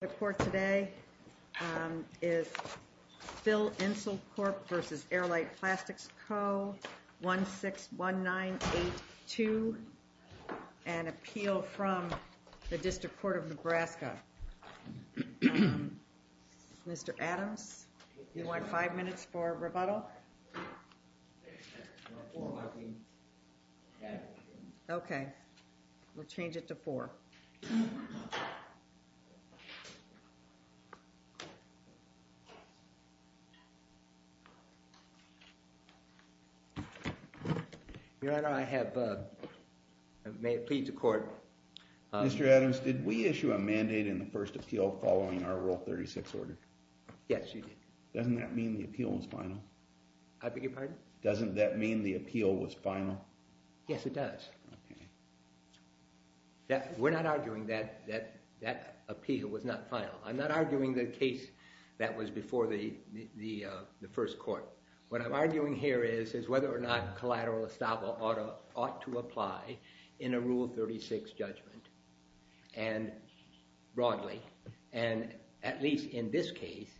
The court today is Phil-Insul Corp. v. Airlite Plastics Co. 161982, an appeal from the District Court of Nebraska. Mr. Adams, you want five minutes for rebuttal? Mr. Adams, did we issue a mandate in the first appeal following our Rule 36 order? Yes, you did. Doesn't that mean the appeal was final? I beg your pardon? Doesn't that mean the appeal was final? Yes, it does. We're not arguing that that appeal was not final. I'm not arguing the case that was before the first court. What I'm arguing here is whether or not collateral estaba ought to apply in a Rule 36 judgment broadly. And at least in this case,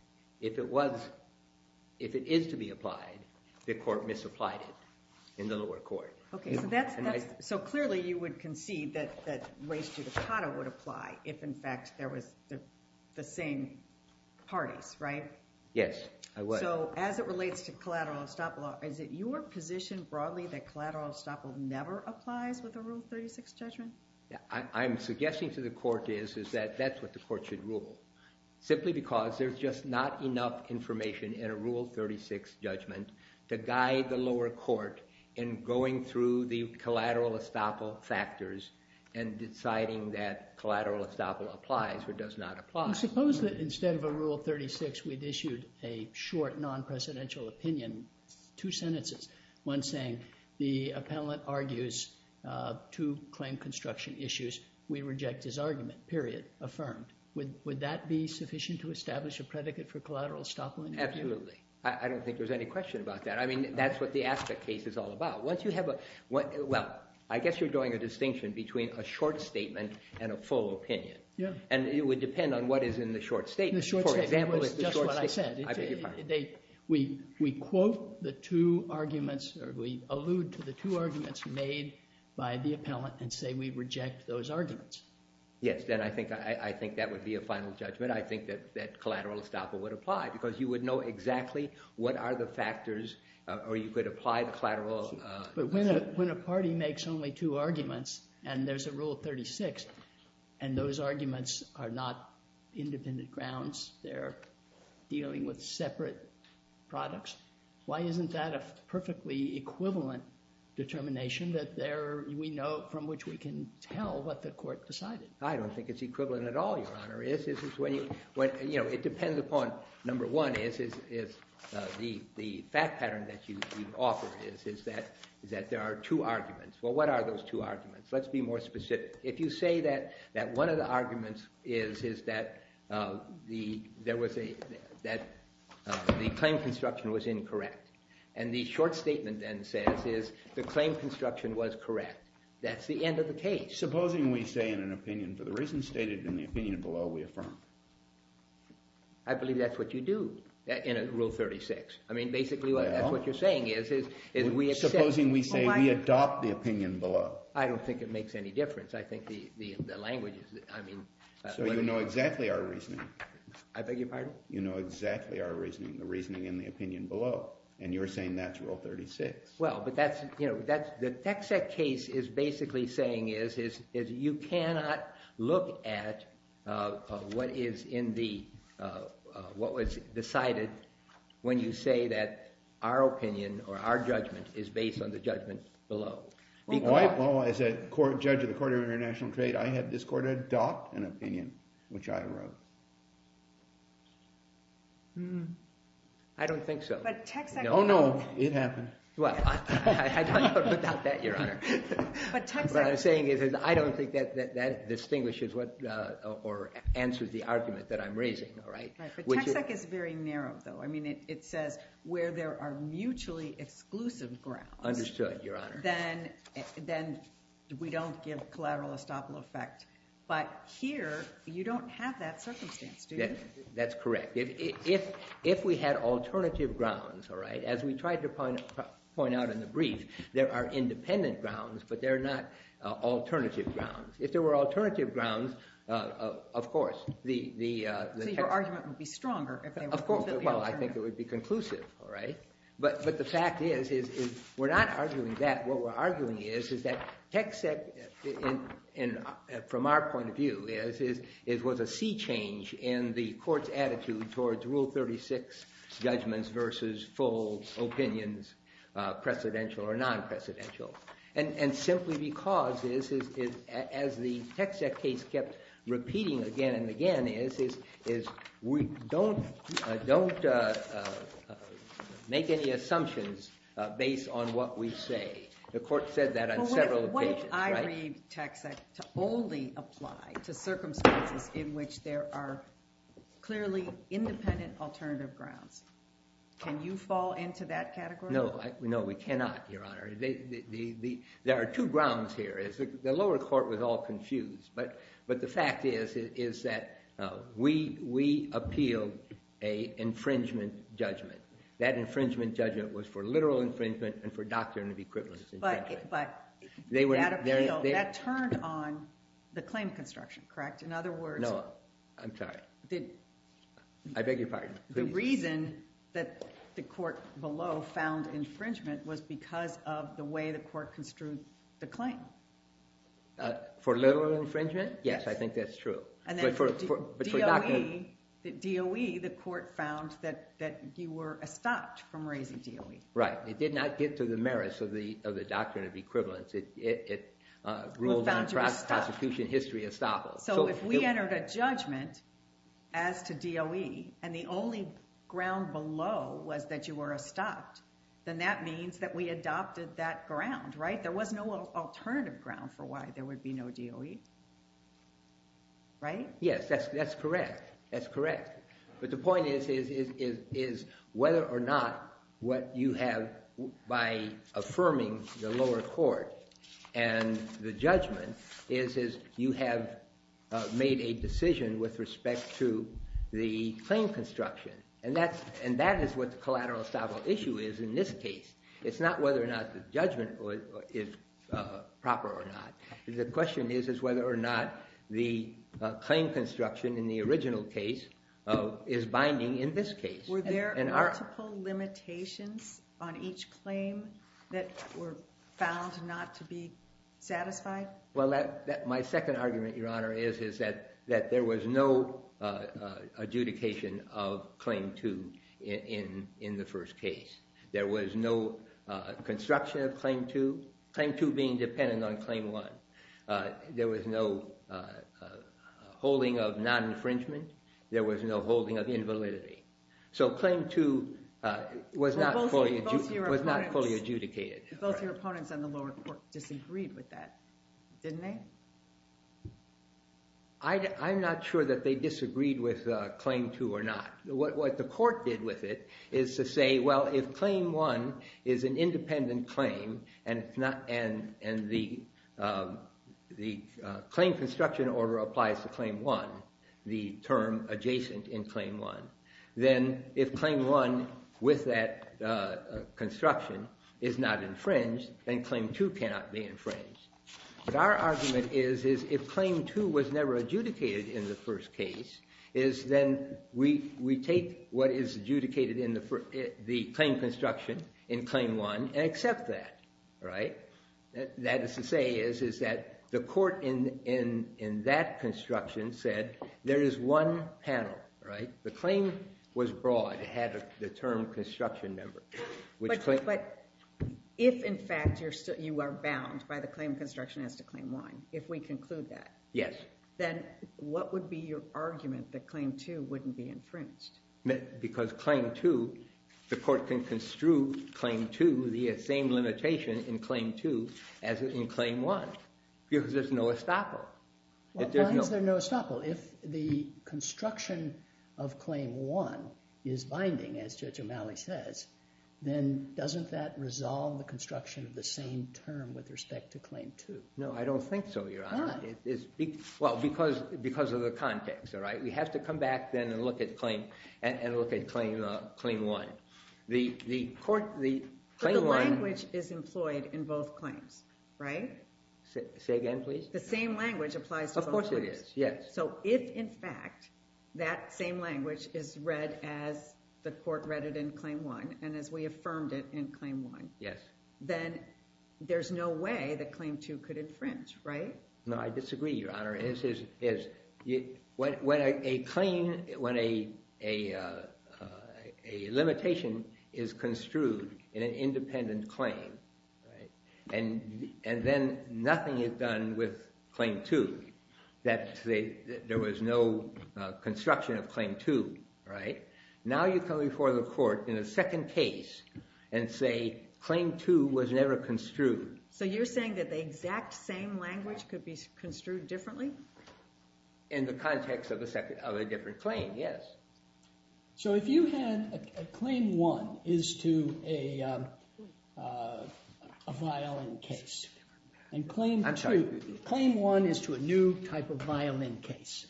if it is to be applied, the court misapplied it in the lower court. So clearly you would concede that race judicata would apply if in fact there was the same parties, right? Yes, I would. So as it relates to collateral estaba, is it your position broadly that collateral estaba never applies with a Rule 36 judgment? I'm suggesting to the court is that that's what the court should rule. Simply because there's just not enough information in a Rule 36 judgment to guide the lower court in going through the collateral estaba factors and deciding that collateral estaba applies or does not apply. Suppose that instead of a Rule 36, we'd issued a short, non-presidential opinion, two sentences. One saying the appellant argues two claim construction issues. We reject his argument, period, affirmed. Would that be sufficient to establish a predicate for collateral estaba? Absolutely. I don't think there's any question about that. I mean, that's what the aspect case is all about. Once you have a – well, I guess you're drawing a distinction between a short statement and a full opinion. Yeah. And it would depend on what is in the short statement. The short statement is just what I said. I beg your pardon. We quote the two arguments or we allude to the two arguments made by the appellant and say we reject those arguments. Yes, then I think that would be a final judgment. I think that collateral estaba would apply because you would know exactly what are the factors or you could apply the collateral. But when a party makes only two arguments and there's a Rule 36 and those arguments are not independent grounds. They're dealing with separate products. Why isn't that a perfectly equivalent determination that there – we know from which we can tell what the court decided? I don't think it's equivalent at all, Your Honor. It depends upon – number one is the fact pattern that you offer is that there are two arguments. Well, what are those two arguments? Let's be more specific. If you say that one of the arguments is that there was a – that the claim construction was incorrect and the short statement then says is the claim construction was correct, that's the end of the case. Supposing we say in an opinion for the reason stated in the opinion below we affirm. I believe that's what you do in Rule 36. I mean basically that's what you're saying is we accept – Supposing we say we adopt the opinion below. I don't think it makes any difference. I think the language is – I mean – So you know exactly our reasoning. I beg your pardon? You know exactly our reasoning, the reasoning in the opinion below, and you're saying that's Rule 36. Well, but that's – the Texact case is basically saying is you cannot look at what is in the – what was decided when you say that our opinion or our judgment is based on the judgment below. As a judge of the Court of International Trade, I have this court adopt an opinion which I wrote. I don't think so. But Texact – Oh no, it happened. Well, I don't know about that, Your Honor. But Texact – What I'm saying is I don't think that that distinguishes what – or answers the argument that I'm raising. Right, but Texact is very narrow though. I mean it says where there are mutually exclusive grounds – Understood, Your Honor. Then we don't give collateral estoppel effect. But here you don't have that circumstance, do you? That's correct. If we had alternative grounds, all right, as we tried to point out in the brief, there are independent grounds, but they're not alternative grounds. If there were alternative grounds, of course, the – So your argument would be stronger if they were completely alternative. Well, I think it would be conclusive, all right? But the fact is we're not arguing that. What we're arguing is, is that Texact, from our point of view, was a sea change in the court's attitude towards Rule 36 judgments versus full opinions, precedential or non-precedential. And simply because, as the Texact case kept repeating again and again, is we don't make any assumptions based on what we say. The court said that on several occasions, right? But what if I read Texact to only apply to circumstances in which there are clearly independent alternative grounds? Can you fall into that category? No, we cannot, Your Honor. There are two grounds here. The lower court was all confused. But the fact is that we appealed an infringement judgment. That infringement judgment was for literal infringement and for doctrine of equivalence in judgment. But that appeal, that turned on the claim construction, correct? In other words – No, I'm sorry. I beg your pardon. The reason that the court below found infringement was because of the way the court construed the claim. For literal infringement? Yes, I think that's true. And then for DOE, the court found that you were estopped from raising DOE. Right. It did not get to the merits of the doctrine of equivalence. It ruled on prosecution history estoppel. So if we entered a judgment as to DOE and the only ground below was that you were estopped, then that means that we adopted that ground, right? There was no alternative ground for why there would be no DOE, right? Yes, that's correct. That's correct. But the point is whether or not what you have by affirming the lower court and the judgment is you have made a decision with respect to the claim construction. And that is what the collateral estoppel issue is in this case. It's not whether or not the judgment is proper or not. The question is whether or not the claim construction in the original case is binding in this case. Were there multiple limitations on each claim that were found not to be satisfied? Well, my second argument, Your Honor, is that there was no adjudication of claim two in the first case. There was no construction of claim two, claim two being dependent on claim one. There was no holding of non-infringement. There was no holding of invalidity. So claim two was not fully adjudicated. Both your opponents on the lower court disagreed with that, didn't they? I'm not sure that they disagreed with claim two or not. What the court did with it is to say, well, if claim one is an independent claim and the claim construction order applies to claim one, the term adjacent in claim one, then if claim one with that construction is not infringed, then claim two cannot be infringed. But our argument is if claim two was never adjudicated in the first case, then we take what is adjudicated in the claim construction in claim one and accept that. That is to say is that the court in that construction said there is one panel. The claim was broad. It had the term construction member. But if, in fact, you are bound by the claim construction as to claim one, if we conclude that, then what would be your argument that claim two wouldn't be infringed? Because claim two, the court can construe claim two, the same limitation in claim two as in claim one because there's no estoppel. Why is there no estoppel? Well, if the construction of claim one is binding, as Judge O'Malley says, then doesn't that resolve the construction of the same term with respect to claim two? No, I don't think so, Your Honor. Why? Well, because of the context. We have to come back then and look at claim one. But the language is employed in both claims, right? Say again, please. The same language applies to both claims. Yes, yes. So if, in fact, that same language is read as the court read it in claim one and as we affirmed it in claim one, then there's no way that claim two could infringe, right? No, I disagree, Your Honor. When a limitation is construed in an independent claim and then nothing is done with claim two, that there was no construction of claim two, right? Now you come before the court in a second case and say claim two was never construed. So you're saying that the exact same language could be construed differently? In the context of a different claim, yes. So if you had claim one is to a violin case and claim two— I'm sorry. Claim one is to a new type of violin case.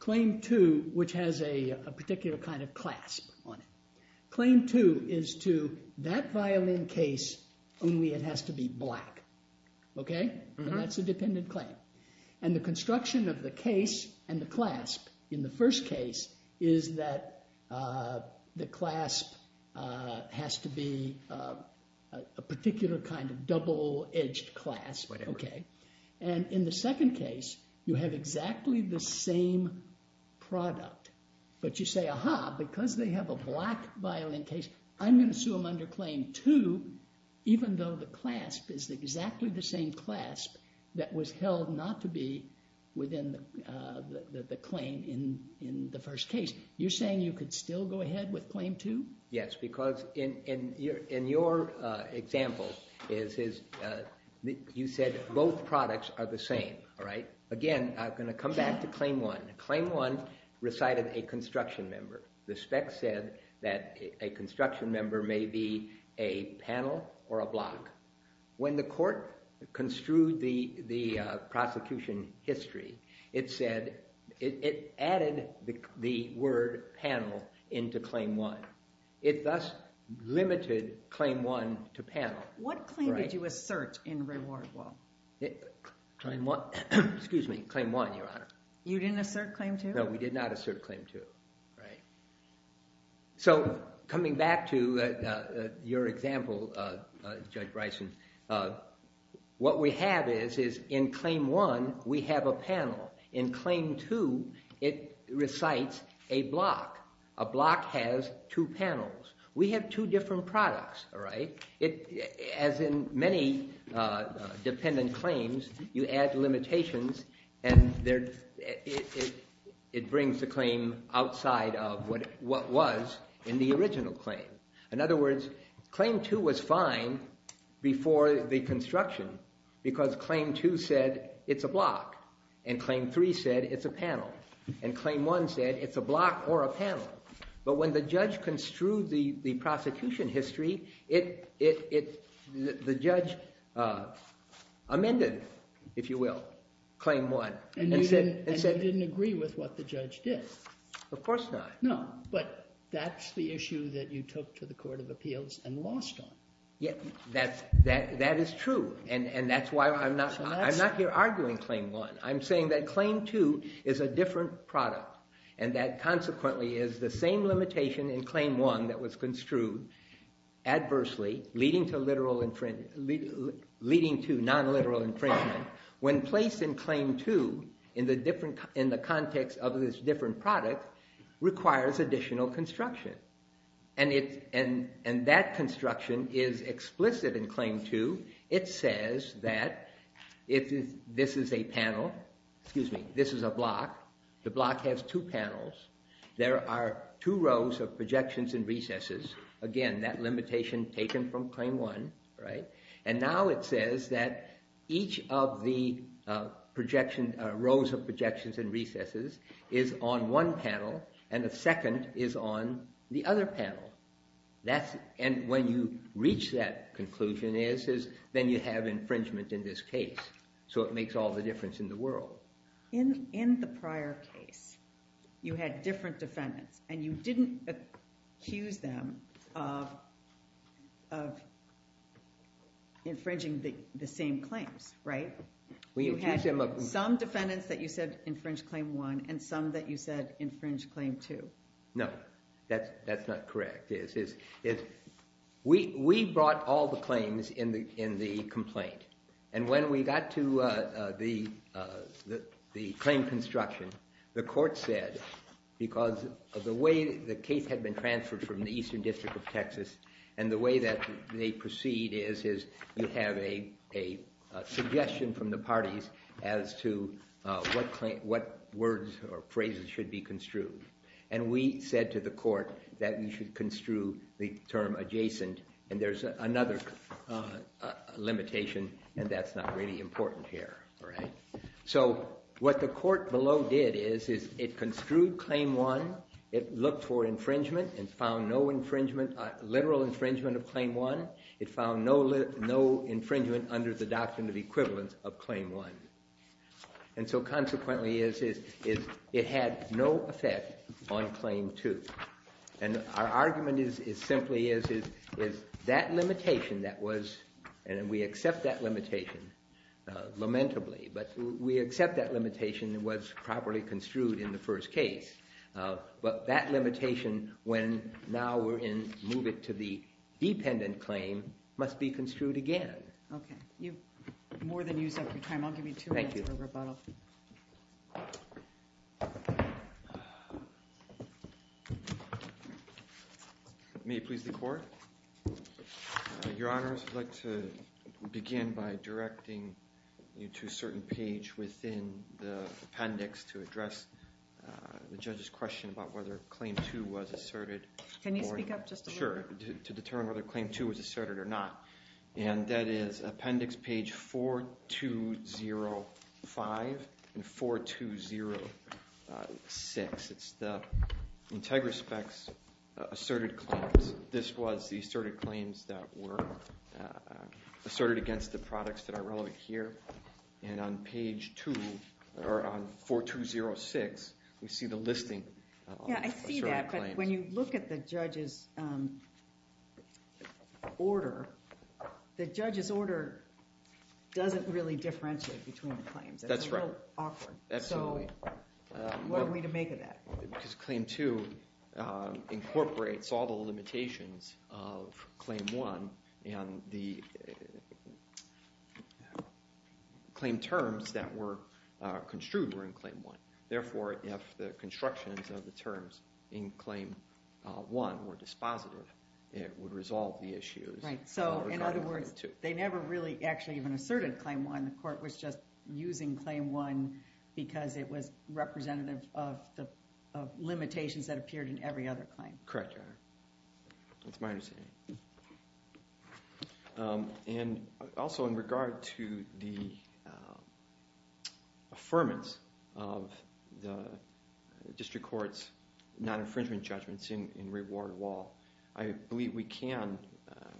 Claim two, which has a particular kind of clasp on it. Claim two is to that violin case, only it has to be black, okay? And that's a dependent claim. And the construction of the case and the clasp in the first case is that the clasp has to be a particular kind of double-edged clasp, okay? And in the second case, you have exactly the same product. But you say, aha, because they have a black violin case, I'm going to sue them under claim two, even though the clasp is exactly the same clasp that was held not to be within the claim in the first case. You're saying you could still go ahead with claim two? Yes, because in your example, you said both products are the same, all right? Again, I'm going to come back to claim one. Claim one recited a construction member. The spec said that a construction member may be a panel or a block. When the court construed the prosecution history, it said it added the word panel into claim one. It thus limited claim one to panel. What claim did you assert in reward law? Claim one, excuse me, claim one, Your Honor. You didn't assert claim two? No, we did not assert claim two. So coming back to your example, Judge Bryson, what we have is in claim one, we have a panel. In claim two, it recites a block. A block has two panels. We have two different products, all right? As in many dependent claims, you add limitations, and it brings the claim outside of what was in the original claim. In other words, claim two was fine before the construction because claim two said it's a block. And claim three said it's a panel. And claim one said it's a block or a panel. But when the judge construed the prosecution history, the judge amended, if you will, claim one. And you didn't agree with what the judge did? Of course not. No, but that's the issue that you took to the Court of Appeals and lost on. Yeah, that is true. And that's why I'm not here arguing claim one. I'm saying that claim two is a different product. And that consequently is the same limitation in claim one that was construed adversely leading to non-literal infringement when placed in claim two in the context of this different product requires additional construction. And that construction is explicit in claim two. It says that this is a panel. Excuse me, this is a block. The block has two panels. There are two rows of projections and recesses. Again, that limitation taken from claim one. And now it says that each of the rows of projections and recesses is on one panel, and the second is on the other panel. And when you reach that conclusion, then you have infringement in this case. So it makes all the difference in the world. In the prior case, you had different defendants. And you didn't accuse them of infringing the same claims, right? You had some defendants that you said infringed claim one and some that you said infringed claim two. No, that's not correct. We brought all the claims in the complaint. And when we got to the claim construction, the court said because of the way the case had been transferred from the Eastern District of Texas and the way that they proceed is you have a suggestion from the parties as to what words or phrases should be construed. And we said to the court that we should construe the term adjacent. And there's another limitation, and that's not really important here. So what the court below did is it construed claim one. It looked for infringement and found no infringement, literal infringement of claim one. It found no infringement under the doctrine of equivalence of claim one. And so consequently, it had no effect on claim two. And our argument is simply is that limitation that was and we accept that limitation lamentably, but we accept that limitation was properly construed in the first case. But that limitation when now we're in move it to the dependent claim must be construed again. Okay. You've more than used up your time. I'll give you two minutes for rebuttal. Thank you. May it please the court. Your honors, I'd like to begin by directing you to a certain page within the appendix to address the judge's question about whether claim two was asserted. Can you speak up just a little bit? Sure. To determine whether claim two was asserted or not. And that is appendix page 4205 and 4206. It's the Integraspects asserted claims. This was the asserted claims that were asserted against the products that are relevant here. And on page 2 or on 4206, we see the listing of asserted claims. Yeah, I see that. But when you look at the judge's order, the judge's order doesn't really differentiate between the claims. That's right. It's a little awkward. Absolutely. So what are we to make of that? Because claim two incorporates all the limitations of claim one. And the claim terms that were construed were in claim one. Therefore, if the constructions of the terms in claim one were dispositive, it would resolve the issues. Right. So in other words, they never really actually even asserted claim one. The court was just using claim one because it was representative of the limitations that appeared in every other claim. Correct, Your Honor. That's my understanding. And also in regard to the affirmance of the district court's non-infringement judgments in reward law, I believe we can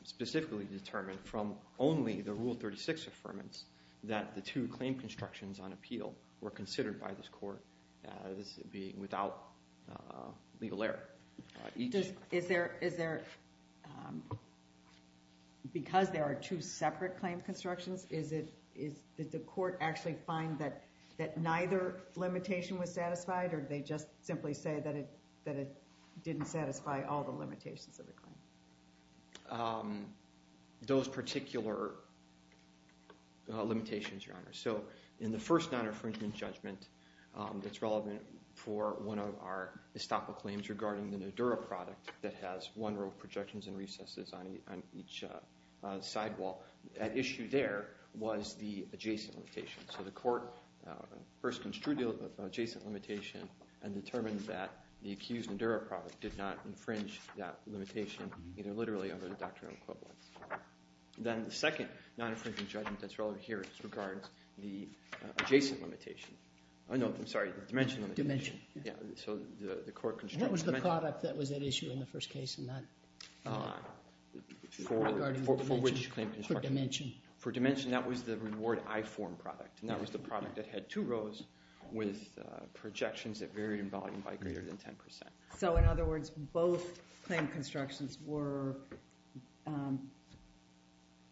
specifically determine from only the Rule 36 affirmance that the two claim constructions on appeal were considered by this court without legal error. Because there are two separate claim constructions, did the court actually find that neither limitation was satisfied? Or did they just simply say that it didn't satisfy all the limitations of the claim? Those particular limitations, Your Honor. So in the first non-infringement judgment that's relevant for one of our estoppel claims regarding the Nodura product that has one row projections and recesses on each sidewall, at issue there was the adjacent limitation. So the court first construed the adjacent limitation and determined that the accused Nodura product did not infringe that limitation either literally or under the doctrine of equivalence. Then the second non-infringement judgment that's relevant here regards the adjacent limitation. Oh, no, I'm sorry, the dimension limitation. Dimension. So the court constructed dimension. What was the product that was at issue in the first case in that? For which claim construction? For dimension. For dimension, that was the reward I form product. And that was the product that had two rows with projections that varied in volume by greater than 10%. So in other words, both claim constructions were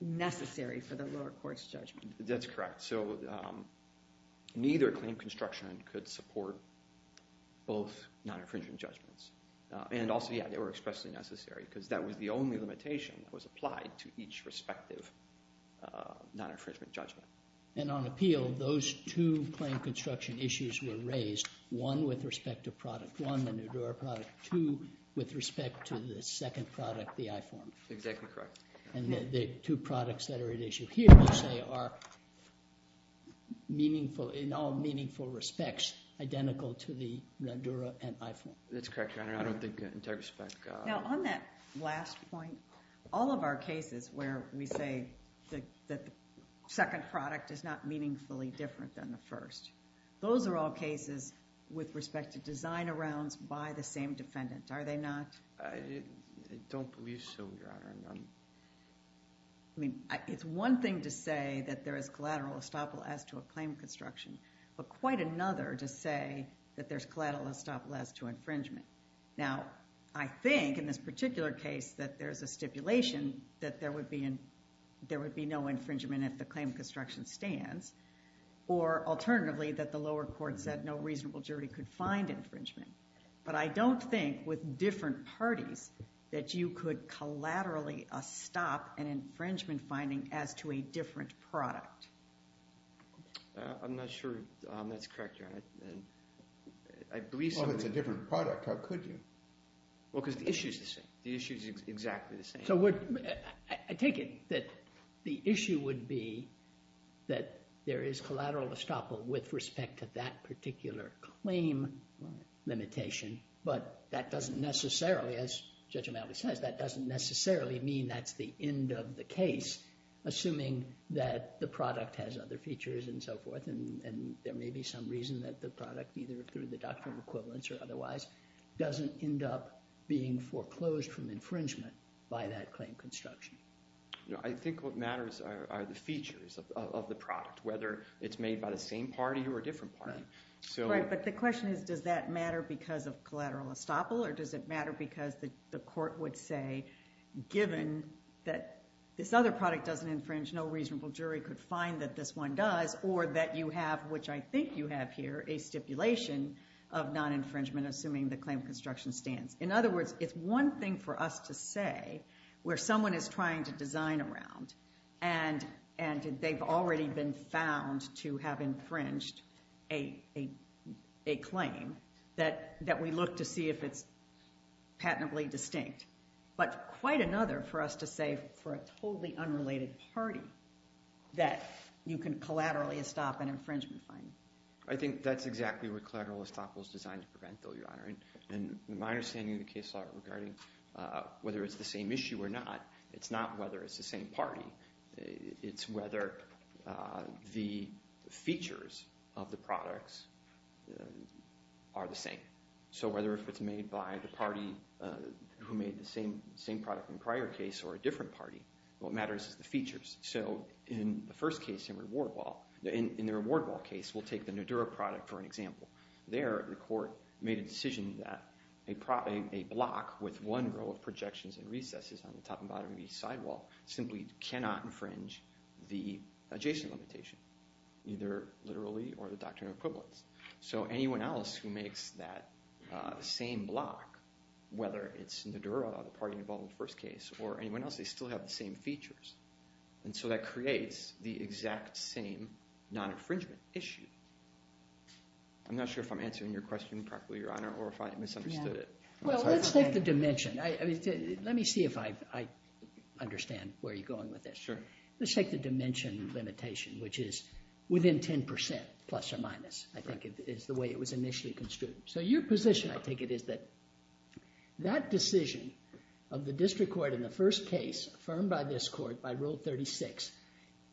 necessary for the lower court's judgment. That's correct. So neither claim construction could support both non-infringement judgments. And also, yeah, they were expressly necessary because that was the only limitation that was applied to each respective non-infringement judgment. And on appeal, those two claim construction issues were raised, one with respect to product, one the NADURA product, two with respect to the second product, the I form. Exactly correct. And the two products that are at issue here, you say, are in all meaningful respects identical to the NADURA and I form. That's correct, Your Honor. I don't think in that respect. Now, on that last point, all of our cases where we say that the second product is not meaningfully different than the first, those are all cases with respect to design around by the same defendant. Are they not? I don't believe so, Your Honor. I mean, it's one thing to say that there is collateral estoppel as to a claim construction, but quite another to say that there's collateral estoppel as to infringement. Now, I think in this particular case that there is a stipulation that there would be no infringement if the claim construction stands. Or alternatively, that the lower court said no reasonable jury could find infringement. But I don't think with different parties that you could collaterally estop an infringement finding as to a different product. I'm not sure that's correct, Your Honor. I believe so. Well, if it's a different product, how could you? Well, because the issue is the same. The issue is exactly the same. I take it that the issue would be that there is collateral estoppel with respect to that particular claim limitation. But that doesn't necessarily, as Judge O'Malley says, that doesn't necessarily mean that's the end of the case, assuming that the product has other features and so forth. And there may be some reason that the product, either through the doctrine of equivalence or otherwise, doesn't end up being foreclosed from infringement by that claim construction. I think what matters are the features of the product, whether it's made by the same party or a different party. Right, but the question is, does that matter because of collateral estoppel, or does it matter because the court would say, given that this other product doesn't infringe, no reasonable jury could find that this one does, or that you have, which I think you have here, a stipulation of non-infringement, assuming the claim construction stands. In other words, it's one thing for us to say, where someone is trying to design around, and they've already been found to have infringed a claim, that we look to see if it's patently distinct. But quite another for us to say, for a totally unrelated party, that you can collaterally estop an infringement finding. I think that's exactly what collateral estoppel is designed to prevent, though, Your Honor. And my understanding of the case law regarding whether it's the same issue or not, it's not whether it's the same party. It's whether the features of the products are the same. So whether if it's made by the party who made the same product in the prior case or a different party, what matters is the features. So in the first case, in the reward ball case, we'll take the Nodura product for an example. There, the court made a decision that a block with one row of projections and recesses on the top and bottom of each sidewall simply cannot infringe the adjacent limitation, either literally or the doctrine of equivalence. So anyone else who makes that same block, whether it's Nodura, the party involved in the first case, or anyone else, they still have the same features. And so that creates the exact same non-infringement issue. I'm not sure if I'm answering your question properly, Your Honor, or if I misunderstood it. Well, let's take the dimension. Let me see if I understand where you're going with this. Let's take the dimension limitation, which is within 10%, plus or minus, I think, is the way it was initially construed. So your position, I take it, is that that decision of the district court in the first case, affirmed by this court by Rule 36,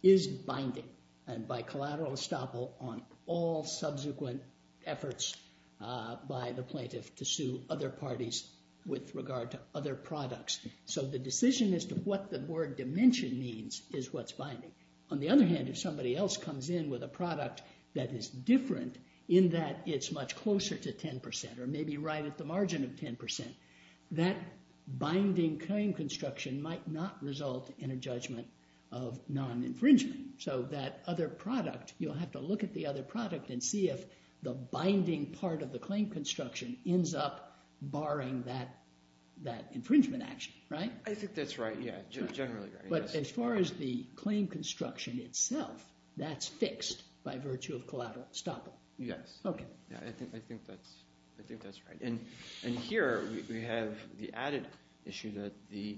is binding, and by collateral estoppel on all subsequent efforts by the plaintiff to sue other parties with regard to other products. So the decision as to what the word dimension means is what's binding. On the other hand, if somebody else comes in with a product that is different, in that it's much closer to 10%, or maybe right at the margin of 10%, that binding kind of construction might not result in a judgment of non-infringement. So that other product, you'll have to look at the other product and see if the binding part of the claim construction ends up barring that infringement action. Right? I think that's right. Yeah, generally right. But as far as the claim construction itself, that's fixed by virtue of collateral estoppel. Yes. OK. Yeah, I think that's right. And here, we have the added issue that the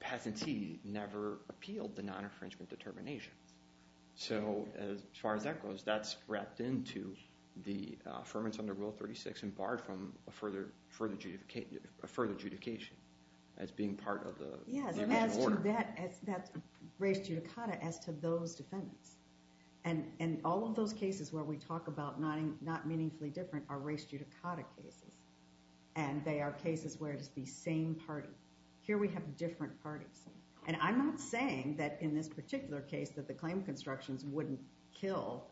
patentee never appealed the non-infringement determination. So as far as that goes, that's wrapped into the affirmance under Rule 36 and barred from a further adjudication as being part of the original order. Yes, that's race judicata as to those defendants. And all of those cases where we talk about not meaningfully different are race judicata cases. And they are cases where it is the same party. Here, we have different parties. And I'm not saying that in this particular case that the claim constructions wouldn't kill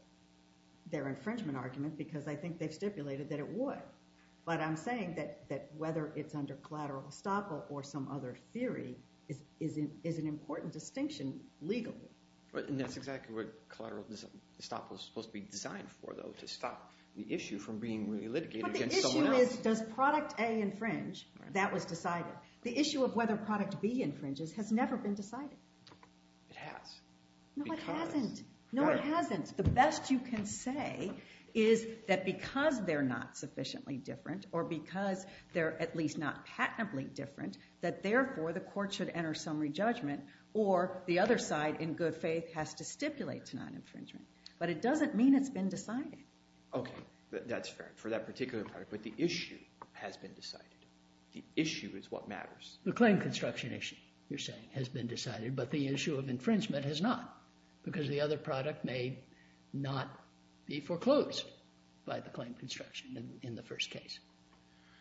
their infringement argument, because I think they've stipulated that it would. But I'm saying that whether it's under collateral estoppel or some other theory is an important distinction legally. And that's exactly what collateral estoppel is supposed to be designed for, though, to stop the issue from being really litigated against someone else. But the issue is, does product A infringe? That was decided. The issue of whether product B infringes has never been decided. It has. No, it hasn't. No, it hasn't. The best you can say is that because they're not sufficiently different, or because they're at least not patently different, that therefore, the court should enter some re-judgment. Or the other side, in good faith, has to stipulate to non-infringement. But it doesn't mean it's been decided. OK. That's fair, for that particular product. But the issue has been decided. The issue is what matters. The claim construction issue, you're saying, has been decided. But the issue of infringement has not, because the other product may not be foreclosed by the claim construction in the first case.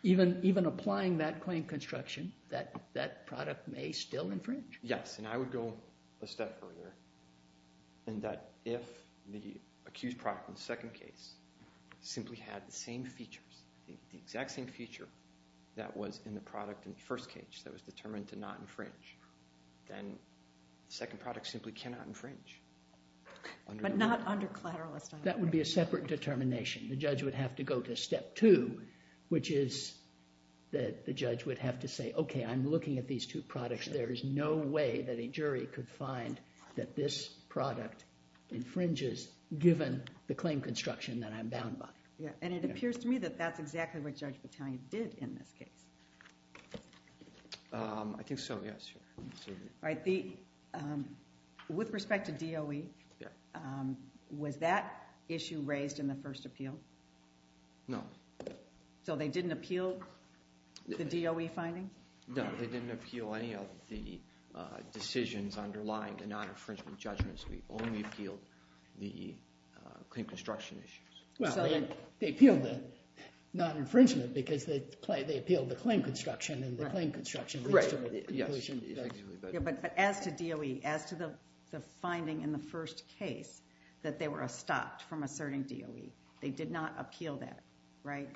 Even applying that claim construction, that product may still infringe. Yes. And I would go a step further, in that if the accused product in the second case simply had the same features, the exact same feature that was in the product in the first case, that was determined to not infringe, then the second product simply cannot infringe. But not under collateral. That would be a separate determination. The judge would have to go to step two, which is that the judge would have to say, OK, I'm looking at these two products. There is no way that a jury could find that this product infringes, given the claim construction that I'm bound by. Yeah. And it appears to me that that's exactly what Judge Battaglia did in this case. I think so, yes. All right. With respect to DOE, was that issue raised in the first appeal? No. So they didn't appeal the DOE findings? No. No, they didn't appeal any of the decisions underlying the non-infringement judgments. We only appealed the claim construction issues. Well, they appealed the non-infringement, because they appealed the claim construction, and the claim construction leads to the inclusion. Right. Yes. But as to DOE, as to the finding in the first case, that they were stopped from asserting DOE, they did not appeal that, right?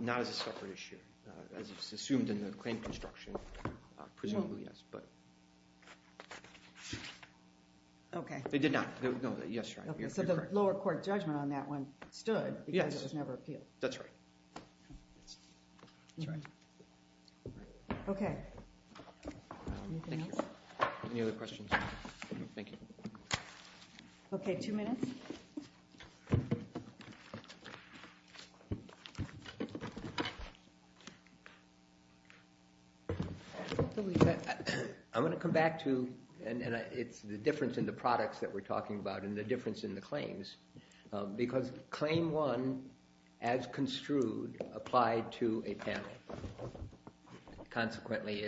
Not as a separate issue. As it's assumed in the claim construction, presumably, yes. But they did not. No, yes, right. So the lower court judgment on that one stood, because it was never appealed. That's right. That's right. OK. Anything else? Any other questions? Thank you. OK, two minutes. I'm going to come back to, and it's the difference in the products that we're talking about, and the difference in the claims. Because Claim 1, as construed, applied to a panel. Consequently,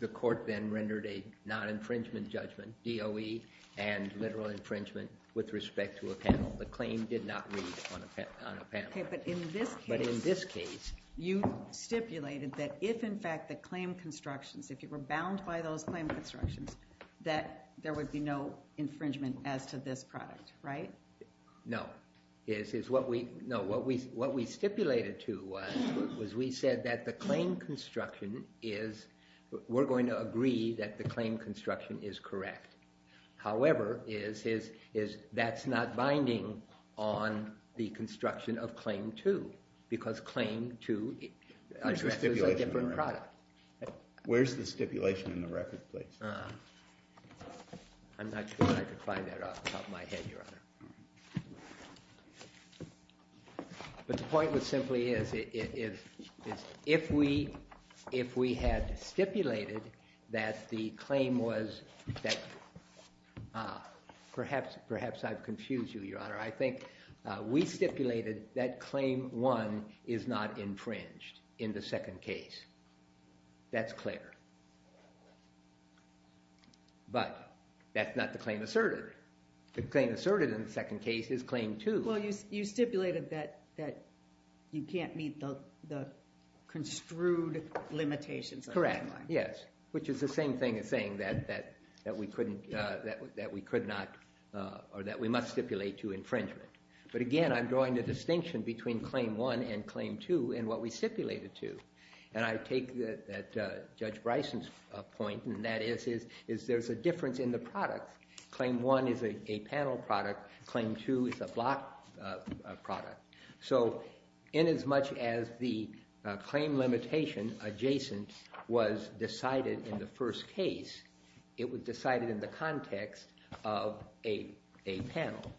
the court then rendered a non-infringement judgment, DOE, and literal infringement with respect to a panel. The claim did not read on a panel. OK, but in this case, you stipulated that if, in fact, the claim constructions, if you were bound by those claim constructions, that there would be no infringement as to this product, right? No. No, what we stipulated to was, we said that the claim construction is, we're going to agree that the claim construction is correct. However, that's not binding on the construction of Claim 2, because Claim 2 is a different product. Where's the stipulation in the record, please? I'm not sure I could find that off the top of my head, Your Honor. But the point simply is, if we had stipulated that the claim was, perhaps I've confused you, Your Honor. I think we stipulated that Claim 1 is not infringed in the second case. That's clear. But that's not the claim asserted. The claim asserted in the second case is Claim 2. Well, you stipulated that you can't meet the construed limitations. Correct, yes. Which is the same thing as saying that we could not, or that we must stipulate to infringement. But again, I'm drawing the distinction between Claim 1 and Claim 2 and what we stipulated to. And I take that Judge Bryson's point, and that is there's a difference in the product. Claim 1 is a panel product. Claim 2 is a block product. So in as much as the claim limitation adjacent was decided in the first case, it was decided in the context of a panel.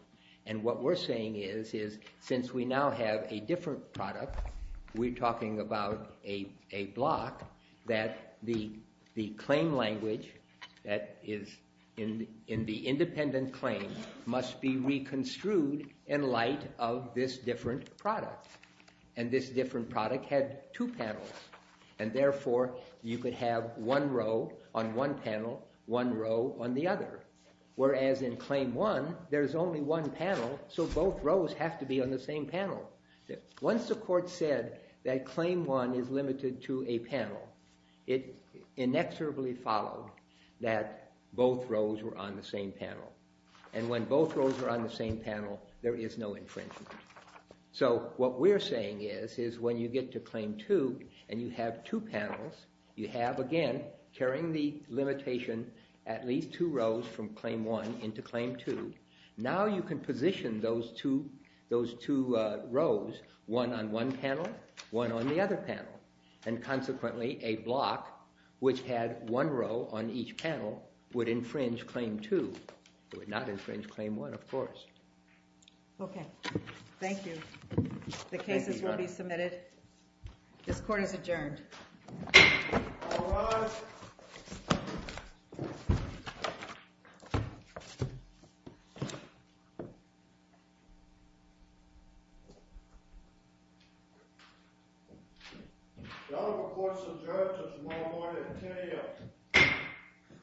And what we're saying is, since we now have a different product, we're talking about a block that the claim language that is in the independent claim must be reconstrued in light of this different product. And this different product had two panels. And therefore, you could have one row on one panel, one row on the other. Whereas in Claim 1, there's only one panel, so both rows have to be on the same panel. Once the court said that Claim 1 is limited to a panel, it inexorably followed that both rows were on the same panel. And when both rows are on the same panel, there is no infringement. So what we're saying is, is when you get to Claim 2 and you have two panels, you have, again, carrying the limitation at least two rows from Claim 1 into Claim 2. Now you can position those two rows, one on one panel, one on the other panel. And consequently, a block which had one row on each panel would infringe Claim 2. It would not infringe Claim 1, of course. OK. Thank you. The case is already submitted. This court is adjourned. All rise. The Honorable Court's adjourned. There's no more to continue.